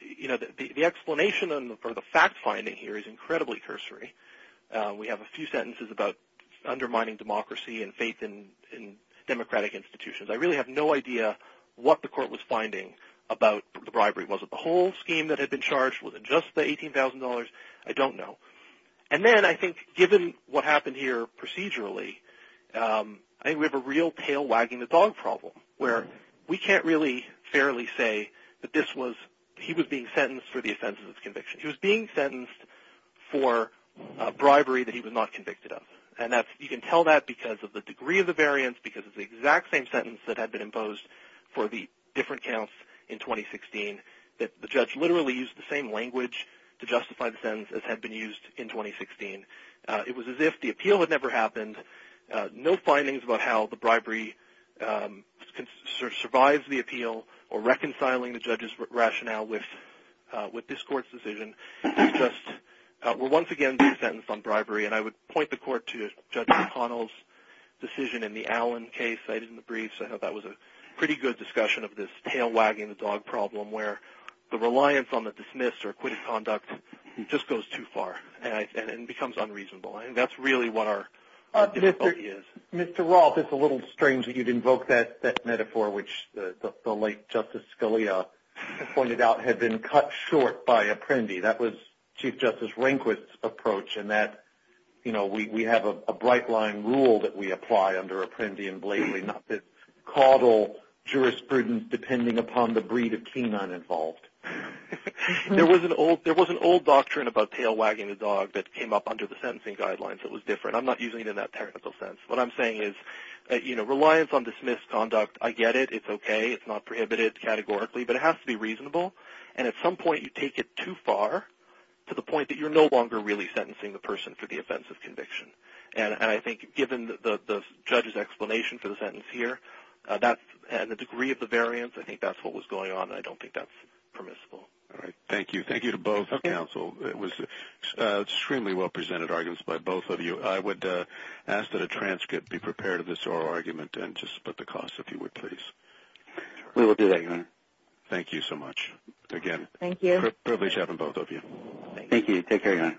– you know, the explanation for the fact finding here is incredibly cursory. We have a few sentences about undermining democracy and faith in democratic institutions. I really have no idea what the court was finding about the bribery. Was it the whole scheme that had been charged? Was it just the $18,000? I don't know. And then I think given what happened here procedurally, I think we have a real tail wagging the dog problem where we can't really fairly say that this was – he was being sentenced for the offenses of conviction. He was being sentenced for bribery that he was not convicted of. And that's – you can tell that because of the degree of the variance, because it's the exact same sentence that had been imposed for the different counts in 2016, that the judge literally used the same language to justify the sentence as had been used in 2016. It was as if the appeal had never happened. No findings about how the bribery survived the appeal or reconciling the judge's rationale with this court's decision. It's just – we'll once again do a sentence on bribery, and I would point the court to Judge McConnell's decision in the Allen case cited in the brief. So that was a pretty good discussion of this tail wagging the dog problem where the reliance on the dismissed or acquitted conduct just goes too far and becomes unreasonable. I think that's really what our difficulty is. Mr. Roth, it's a little strange that you'd invoke that metaphor, which the late Justice Scalia pointed out had been cut short by Apprendi. That was Chief Justice Rehnquist's approach in that, you know, we have a bright-line rule that we apply under Apprendi and Blakely, not this caudal jurisprudence depending upon the breed of canine involved. There was an old doctrine about tail wagging the dog that came up under the sentencing guidelines that was different. I'm not using it in that technical sense. What I'm saying is, you know, reliance on dismissed conduct, I get it. It's okay. And at some point you take it too far to the point that you're no longer really sentencing the person for the offense of conviction. And I think given the judge's explanation for the sentence here and the degree of the variance, I think that's what was going on, and I don't think that's permissible. All right. Thank you. Thank you to both counsel. It was extremely well-presented arguments by both of you. I would ask that a transcript be prepared of this oral argument and just split the cost, if you would, please. We will do that, Your Honor. Thank you so much again. Thank you. Privilege having both of you. Take care, Your Honor.